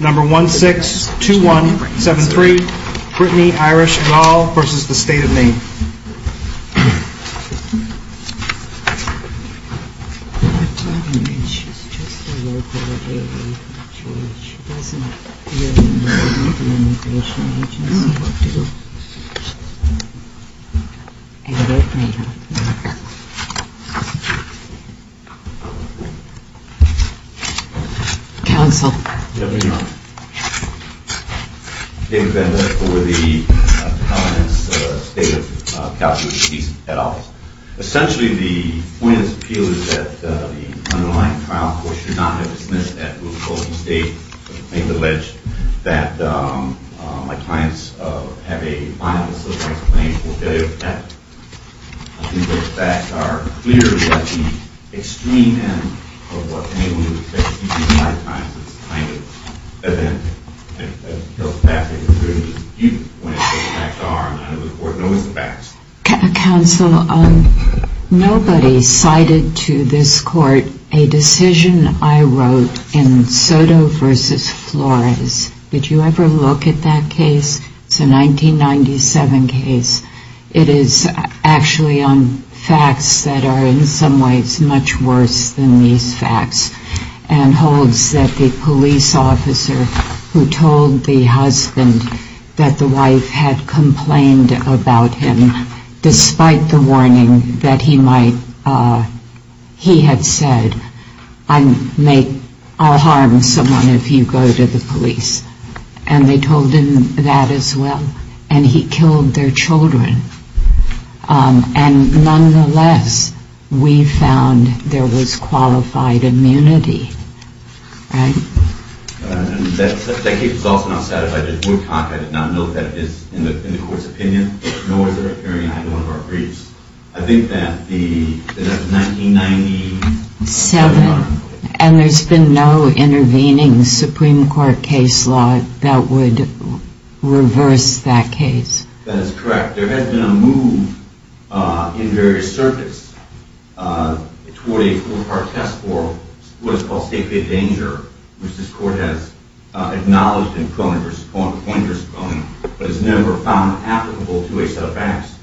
162173 Brittany Irish Gall v. State of Maine David Bender for the state of Calgary police head office. Essentially the point of this appeal is that the underlying trial force should not have dismissed that mistake and made the allege that my clients have a violent civil rights claim for failure to protect them. I think the facts are clear that the extreme end of what may be the case. Counsel, nobody cited to this court a decision I wrote in Soto v. Flores. Did you ever look at that case? It's a 1997 case. It is actually on facts that are in some ways much worse than these facts and holds that the Supreme Court should not have dismissed that mistake and made the allege that my clients have a violent civil rights claim for failure to protect them. There was a police officer who told the husband that the wife had complained about him despite the warning that he might, he had said, I'll harm someone if you go to the police. And they told him that as well. And he killed their children. And nonetheless we found there was qualified immunity. And there's been no intervening Supreme Court case law that would reverse that case. That is correct. There has been a move in various circuits toward a four-part test for what is called safety of danger, which this court has acknowledged in Cronin v. Cronin, but has never found applicable to a set of facts.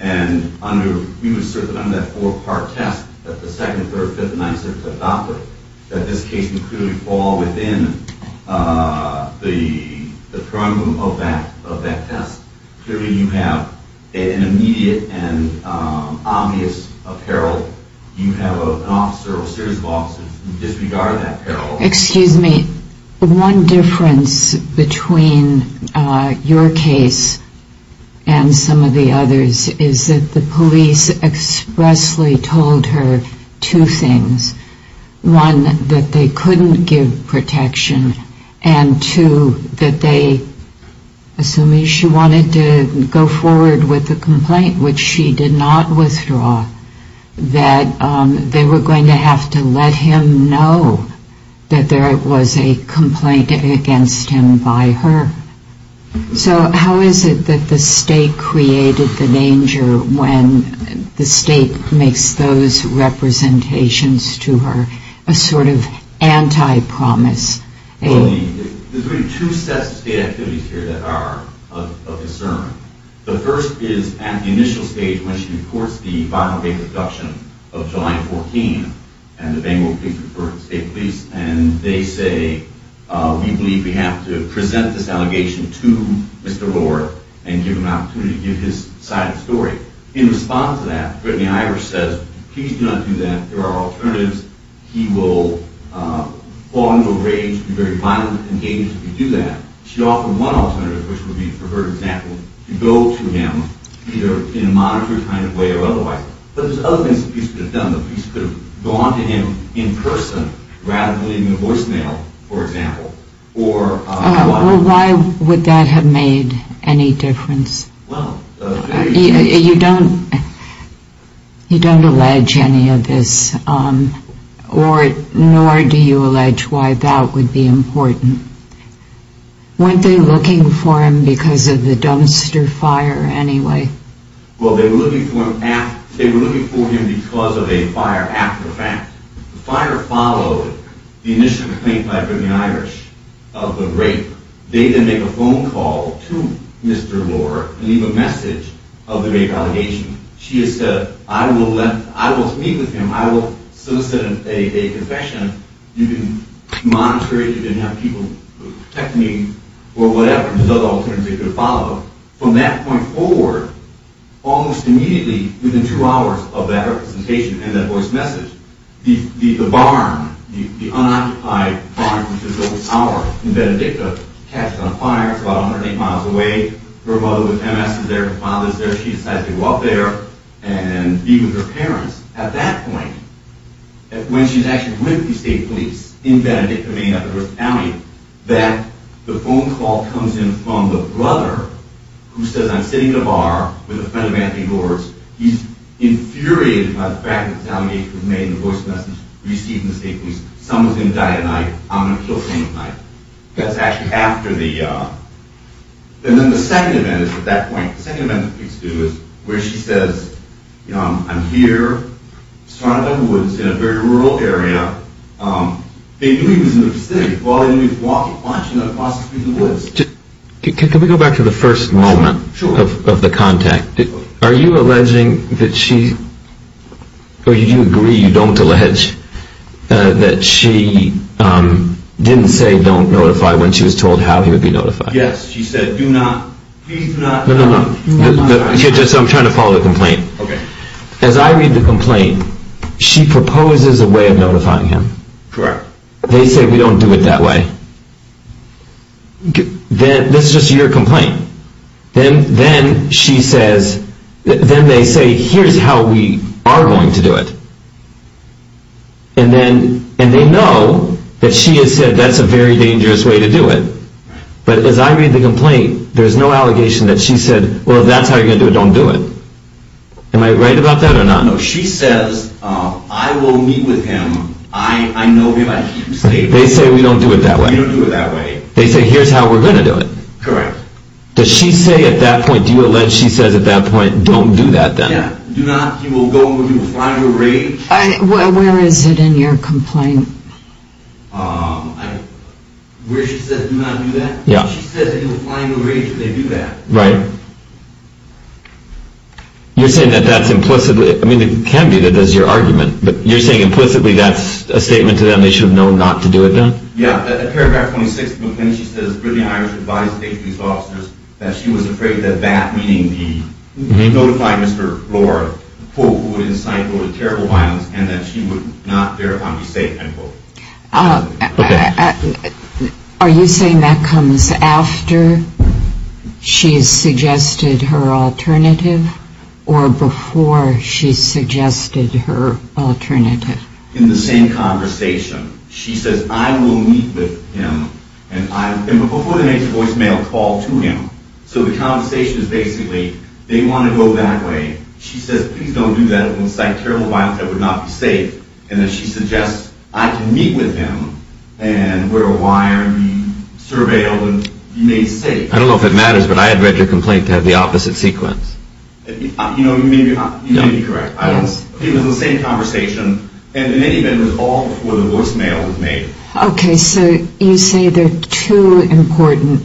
And under, we would assert that under that four-part test that the 2nd, 3rd, 5th, and 9th circuits have adopted, that this case would clearly fall within the prerogative of that test. Clearly you have an immediate and obvious apparel. You have an officer, a series of officers who disregard that apparel. Excuse me. One difference between your case and some of the others is that the police expressly told her two things. One, that they couldn't give protection. And two, that they, assuming she wanted to go forward with the complaint, which she did not withdraw, that they were going to have to let him know. That there was a complaint against him by her. So how is it that the state created the danger when the state makes those representations to her, a sort of anti-promise? Well, there's really two sets of state activities here that are of concern. The first is at the initial stage when she reports the final date of abduction of July 14, and the Bangor Police Department, the state police, and they say, we believe we have to present this allegation to Mr. Lord and give him an opportunity to give his side of the story. In response to that, Brittany Ivers says, please do not do that. There are alternatives. He will fall into a rage and be very violent and engaged if you do that. She offered one alternative, which would be, for her example, to go to him either in a monitor kind of way or otherwise. But there's other things the police could have done. The police could have gone to him in person rather than in a voicemail, for example. Why would that have made any difference? You don't allege any of this, nor do you allege why that would be important. Weren't they looking for him because of the dumpster fire anyway? Well, they were looking for him because of a fire after the fact. The fire followed the initial complaint by Brittany Ivers of the rape. They then make a phone call to Mr. Lord and leave a message of the rape allegation. She has said, I will meet with him. I will solicit a confession. You can monitor it. You can have people protect me or whatever. There's other alternatives they could have followed. From that point forward, almost immediately, within two hours of that representation and that voice message, the barn, the unoccupied barn, which is over Sour in Benedicta, catches on fire. It's about 108 miles away. Her mother with MS is there. Her father is there. She decides to go up there and be with her parents. At that point, when she's actually with the state police in Benedicta, Maine, up in Earth County, the phone call comes in from the brother who says, I'm sitting in a bar with a friend of Anthony Lord's. He's infuriated by the fact that this allegation was made and the voice message received in the state police. Someone's going to die tonight. I'm going to kill someone tonight. That's actually after the, and then the second event is at that point, the second event is where she says, I'm here in a very rural area. They knew he was in the vicinity. Can we go back to the first moment of the contact? Are you alleging that she, or do you agree you don't allege that she didn't say don't notify when she was told how he would be notified? Yes. She said, do not. I'm trying to follow the complaint. Okay. As I read the complaint, she proposes a way of notifying him. They say, we don't do it that way. Then this is just your complaint. Then, then she says, then they say, here's how we are going to do it. And then, and they know that she has said that's a very dangerous way to do it. But as I read the complaint, there's no allegation that she said, well, if that's how you're going to do it, don't do it. Am I right about that or not? No, she says, I will meet with him. I know him. They say, we don't do it that way. They say, here's how we're going to do it. Correct. Does she say at that point, do you allege, she says at that point, don't do that then? Yeah. Do not, he will go and he will fly into a rage. Where is it in your complaint? Where she says do not do that? Yeah. She says he will fly into a rage if they do that. Right. You're saying that that's implicitly, I mean, it can be that that's your argument, but you're saying implicitly that's a statement to them they should have known not to do it then? Yeah. At paragraph 26 of the complaint, she says, Brittany Irish advised the police officers that she was afraid that that, meaning the notify Mr. Blore, quote, who would incite, quote, a terrible violence and that she would not, thereupon, be safe, end quote. Okay. Are you saying that comes after she's suggested her alternative or before she suggested her alternative? In the same conversation. She says, I will meet with him and I, before they make the voicemail call to him. So the conversation is basically, they want to go that way. She says, please don't do that. It will incite terrible violence that would not be safe. And then she suggests I can meet with him and wear a wire and be surveilled and be made safe. I don't know if it matters, but I had read your complaint to have the opposite sequence. You know, you may be correct. It was the same conversation. And in any event, it was all before the voicemail was made. Okay. So you say there are two important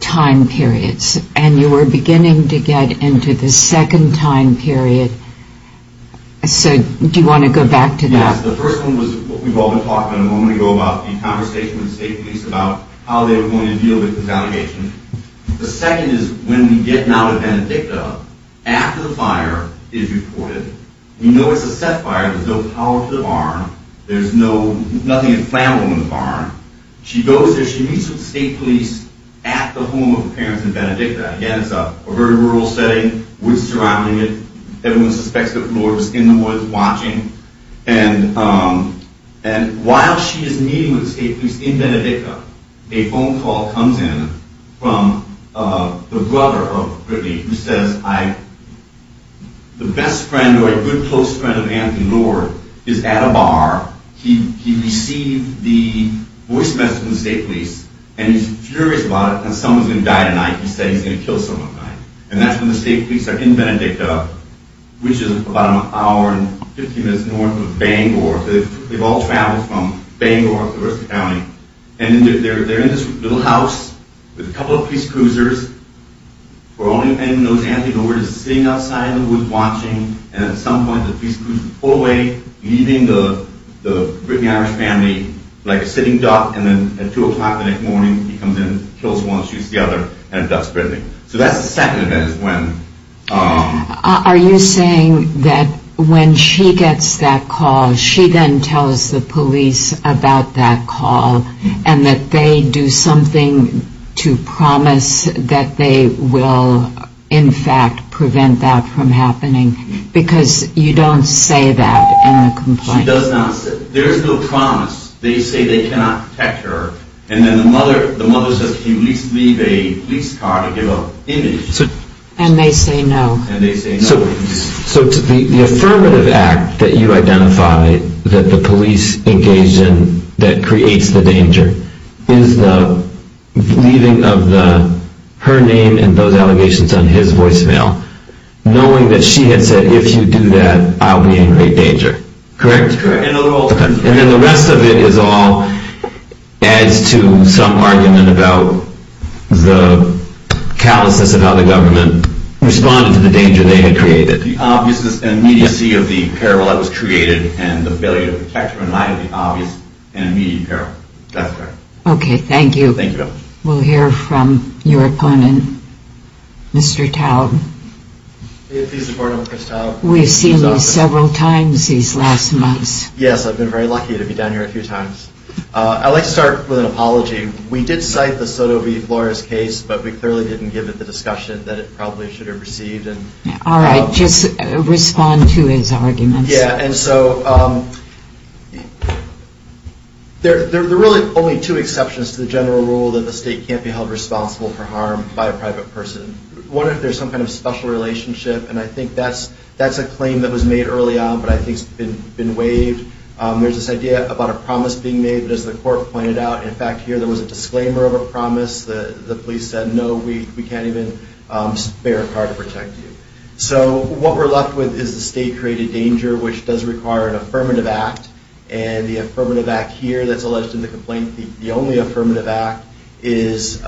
time periods and you were beginning to get into the second time period. So do you want to go back to that? She goes there. She meets with the state police at the home of her parents in Benedicta. Again, it's a very rural setting, woods surrounding it. Everyone suspects that the Lord was in the woods watching. And while she is meeting with the state police in Benedicta, a phone call comes in from the brother of Brittany who says, the best friend or a good close friend of Anthony Lord is at a bar. He received the voice message from the state police, and he's furious about it. And someone's going to die tonight. He said he's going to kill someone tonight. And that's when the state police are in Benedicta, which is about an hour and 15 minutes north of Bangor. They've all traveled from Bangor up the rest of the county. And they're in this little house with a couple of police cruisers. For all you know, Anthony Lord is sitting outside in the woods watching. And at some point, the police cruisers pull away, leaving the Brittany Irish family like a sitting duck. And then at 2 o'clock in the morning, he comes in, kills one, shoots the other, and that's Brittany. So that's the second event is when... Are you saying that when she gets that call, she then tells the police about that call, and that they do something to promise that they will, in fact, prevent that from happening? Because you don't say that in a complaint. She does not. There is no promise. They say they cannot protect her. And then the mother says, can you at least leave a police car to give an image? And they say no. So the affirmative act that you identify that the police engaged in that creates the danger is the leaving of her name and those allegations on his voicemail, knowing that she had said, if you do that, I'll be in great danger. Correct? Correct. And then the rest of it is all adds to some argument about the callousness of how the government responded to the danger they had created. The obviousness and immediacy of the peril that was created and the ability to protect her in light of the obvious and immediate peril. That's correct. Okay. Thank you. Thank you very much. We'll hear from your opponent, Mr. Taube. Please support him, Ms. Taube. We've seen you several times these last months. Yes, I've been very lucky to be down here a few times. I'd like to start with an apology. We did cite the Soto v. Flores case, but we clearly didn't give it the discussion that it probably should have received. All right. Just respond to his arguments. Yeah, and so there are really only two exceptions to the general rule that the state can't be held responsible for harm by a private person. One, if there's some kind of special relationship, and I think that's a claim that was made early on, but I think it's been waived. There's this idea about a promise being made, but as the court pointed out, in fact, here there was a disclaimer of a promise. The police said, no, we can't even spare a car to protect you. So what we're left with is the state-created danger, which does require an affirmative act. And the affirmative act here that's alleged in the complaint, the only affirmative act, is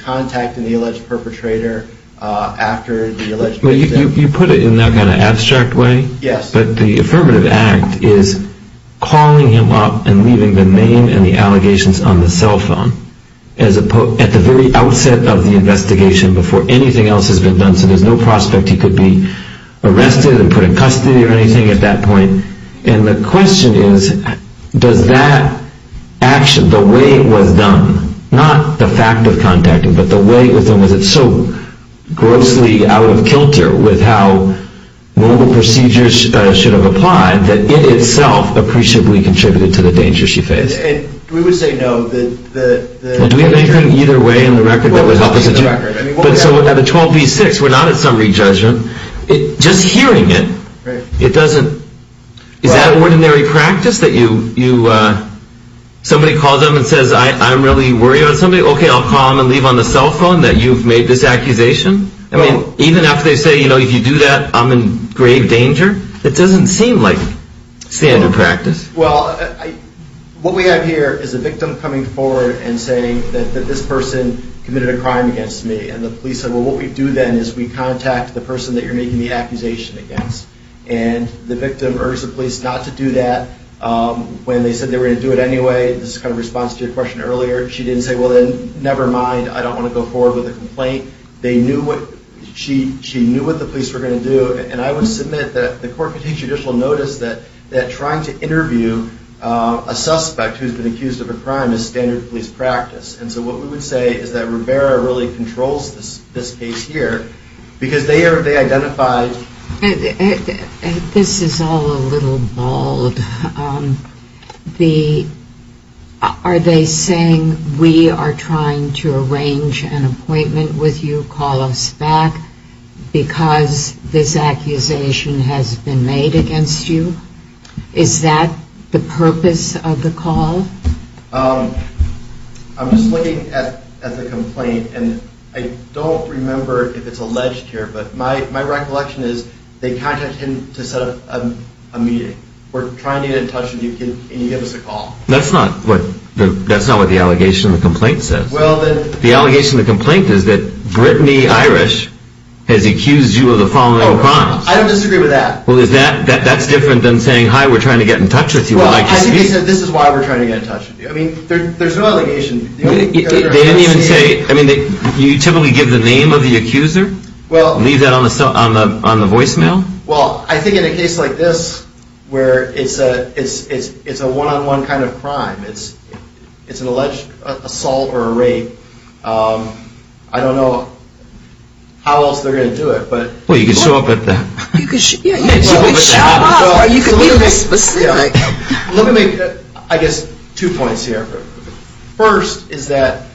contacting the alleged perpetrator after the alleged victim. You put it in that kind of abstract way. Yes. But the affirmative act is calling him up and leaving the name and the allegations on the cell phone at the very outset of the investigation before anything else has been done. So there's no prospect he could be arrested and put in custody or anything at that point. And the question is, does that action, the way it was done, not the fact of contacting, but the way it was done, was it so grossly out of kilter with how normal procedures should have applied that it itself appreciably contributed to the danger she faced? We would say no. Do we have anything either way in the record that would help us? But so at a 12 v. 6, we're not at summary judgment. Just hearing it, it doesn't – is that ordinary practice that you – somebody calls them and says, I'm really worried about somebody? Okay, I'll call them and leave on the cell phone that you've made this accusation? I mean, even after they say, you know, if you do that, I'm in grave danger? It doesn't seem like standard practice. Well, what we have here is a victim coming forward and saying that this person committed a crime against me. And the police said, well, what we do then is we contact the person that you're making the accusation against. And the victim urged the police not to do that when they said they were going to do it anyway. This is kind of a response to your question earlier. She didn't say, well, then never mind. I don't want to go forward with a complaint. They knew what – she knew what the police were going to do. And I would submit that the court could take judicial notice that trying to interview a suspect who's been accused of a crime is standard police practice. And so what we would say is that Rivera really controls this case here because they identified – This is all a little bald. Are they saying we are trying to arrange an appointment with you, call us back, because this accusation has been made against you? Is that the purpose of the call? I'm just looking at the complaint, and I don't remember if it's alleged here, but my recollection is they contacted him to set up a meeting. We're trying to get in touch with you. Can you give us a call? That's not what the allegation in the complaint says. The allegation in the complaint is that Brittany Irish has accused you of the following crimes. I don't disagree with that. Well, is that – that's different than saying, hi, we're trying to get in touch with you. Well, I think they said this is why we're trying to get in touch with you. I mean, there's no allegation. They didn't even say – I mean, you typically give the name of the accuser and leave that on the voicemail? Well, I think in a case like this where it's a one-on-one kind of crime, it's an alleged assault or a rape, I don't know how else they're going to do it. Well, you can show up at the – Yeah, you can show up. I guess two points here. First is that –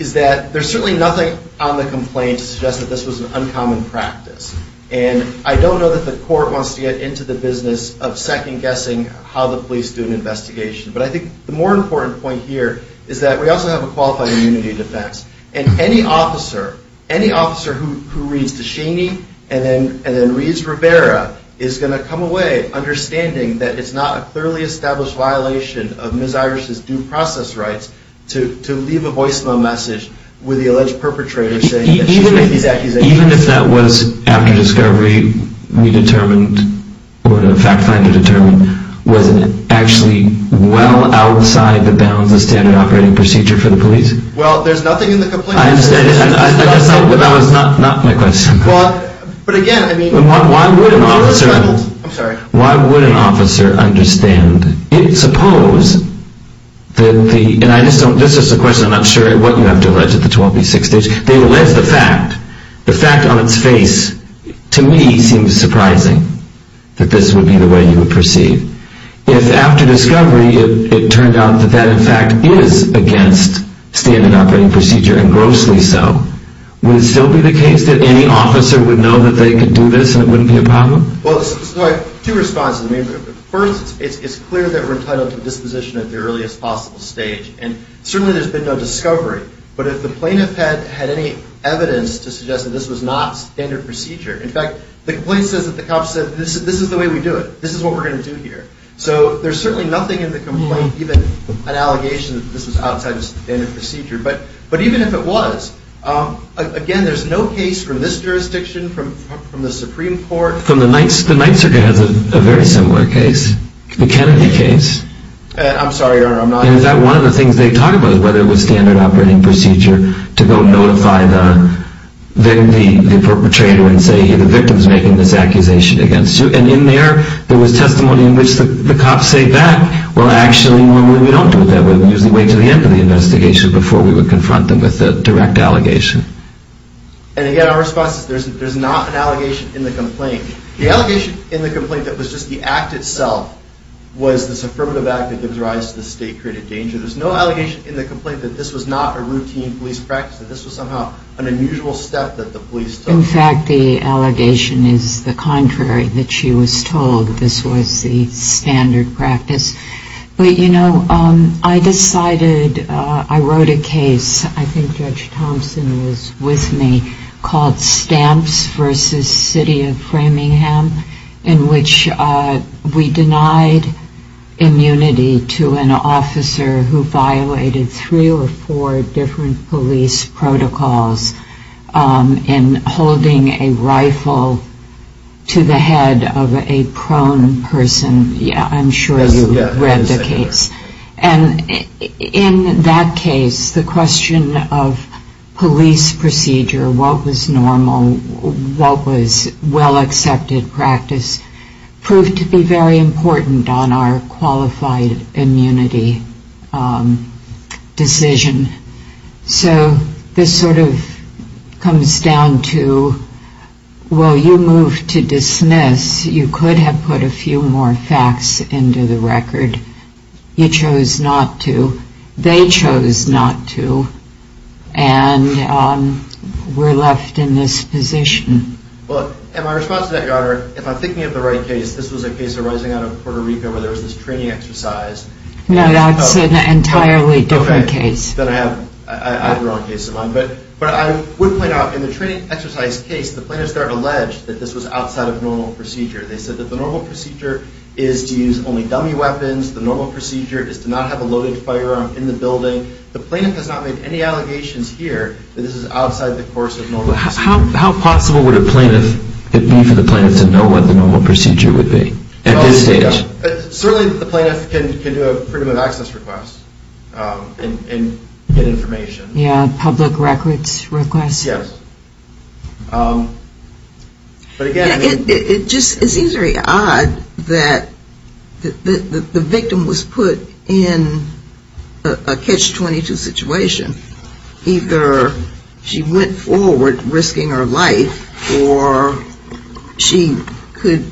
is that there's certainly nothing on the complaint to suggest that this was an uncommon practice. And I don't know that the court wants to get into the business of second-guessing how the police do an investigation. But I think the more important point here is that we also have a qualified immunity defense. And any officer – any officer who reads DeShaney and then reads Rivera is going to come away understanding that it's not a clearly established violation of Ms. Irish's due process rights to leave a voicemail message with the alleged perpetrator saying that she's made these accusations. Even if that was after discovery, we determined – or the fact finder determined, was it actually well outside the bounds of standard operating procedure for the police? Well, there's nothing in the complaint – I understand. That was not my question. Well, but again, I mean – Why would an officer – I'm sorry. Why would an officer understand? It's supposed that the – and I just don't – this is a question I'm not sure what you have to allege at the 12B6 stage. They allege the fact. The fact on its face, to me, seems surprising that this would be the way you would perceive. If after discovery it turned out that that, in fact, is against standard operating procedure, and grossly so, would it still be the case that any officer would know that they could do this and it wouldn't be a problem? Well, two responses. First, it's clear that we're entitled to disposition at the earliest possible stage. And certainly there's been no discovery. But if the plaintiff had any evidence to suggest that this was not standard procedure – In fact, the complaint says that the cops said, this is the way we do it. This is what we're going to do here. So there's certainly nothing in the complaint, even an allegation that this was outside of standard procedure. But even if it was, again, there's no case from this jurisdiction, from the Supreme Court – The Ninth Circuit has a very similar case. The Kennedy case. I'm sorry, Your Honor, I'm not – And is that one of the things they talk about, whether it was standard operating procedure to go notify the perpetrator and say, hey, the victim's making this accusation against you? And in there, there was testimony in which the cops say that. Well, actually, normally we don't do it that way. We usually wait until the end of the investigation before we would confront them with a direct allegation. And again, our response is there's not an allegation in the complaint. The allegation in the complaint that was just the act itself was this affirmative act that gives rise to the state-created danger. There's no allegation in the complaint that this was not a routine police practice, that this was somehow an unusual step that the police took. In fact, the allegation is the contrary, that she was told this was the standard practice. But, you know, I decided – I wrote a case, I think Judge Thompson was with me, called Stamps v. City of Framingham, in which we denied immunity to an officer who violated three or four different police protocols in holding a rifle to the head of a prone person. I'm sure you've read the case. And in that case, the question of police procedure, what was normal, what was well-accepted practice, proved to be very important on our qualified immunity decision. So this sort of comes down to, well, you moved to dismiss. You could have put a few more facts into the record. You chose not to. They chose not to. And we're left in this position. Well, in my response to that, Your Honor, if I'm thinking of the right case, this was a case arising out of Puerto Rico where there was this training exercise. No, that's an entirely different case. Then I have the wrong case in mind. But I would point out, in the training exercise case, the plaintiffs are alleged that this was outside of normal procedure. They said that the normal procedure is to use only dummy weapons. The normal procedure is to not have a loaded firearm in the building. The plaintiff has not made any allegations here that this is outside the course of normal procedure. How possible would it be for the plaintiff to know what the normal procedure would be at this stage? Certainly the plaintiff can do a Freedom of Access request and get information. Yeah, a public records request. Yes. But again... It just seems very odd that the victim was put in a Catch-22 situation. Either she went forward risking her life or she could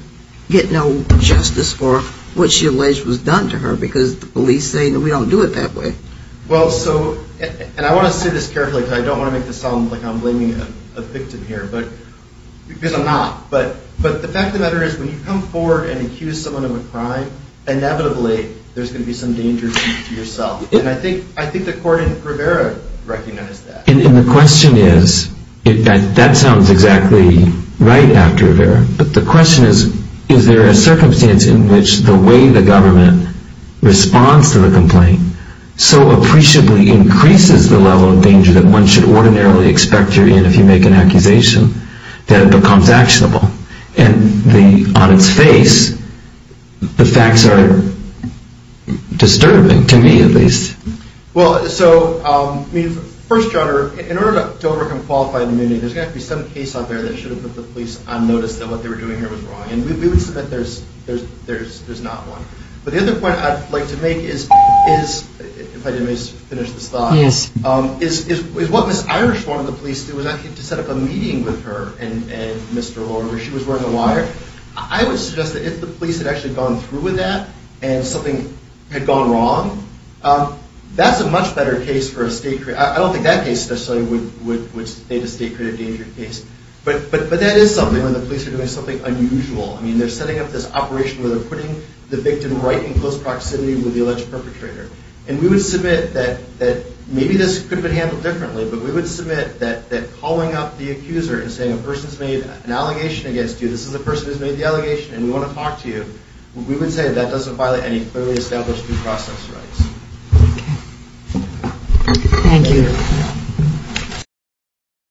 get no justice for what she alleged was done to her because the police say that we don't do it that way. Well, so, and I want to say this carefully because I don't want to make this sound like I'm blaming a victim here. Because I'm not. But the fact of the matter is, when you come forward and accuse someone of a crime, inevitably there's going to be some danger to yourself. And I think the court in Rivera recognized that. And the question is, that sounds exactly right after Rivera, but the question is, is there a circumstance in which the way the government responds to the complaint so appreciably increases the level of danger that one should ordinarily expect to be in if you make an accusation, that it becomes actionable. And on its face, the facts are disturbing, to me at least. Well, so, I mean, first, John, in order to overcome qualified immunity, there's got to be some case out there that should have put the police on notice that what they were doing here was wrong. And we would submit there's not one. But the other point I'd like to make is, if I didn't finish this thought, is what Ms. Irish wanted the police to do was, I think, to set up a meeting with her and Mr. Lorimer. She was wearing a wire. I would suggest that if the police had actually gone through with that, and something had gone wrong, that's a much better case for a state-created. I don't think that case necessarily would state a state-created danger case. But that is something when the police are doing something unusual. I mean, they're setting up this operation where they're putting the victim right in close proximity with the alleged perpetrator. And we would submit that maybe this could have been handled differently, but we would submit that calling up the accuser and saying, a person's made an allegation against you, this is the person who's made the allegation, and we want to talk to you, we would say that doesn't violate any clearly established due process rights. Okay. Thank you.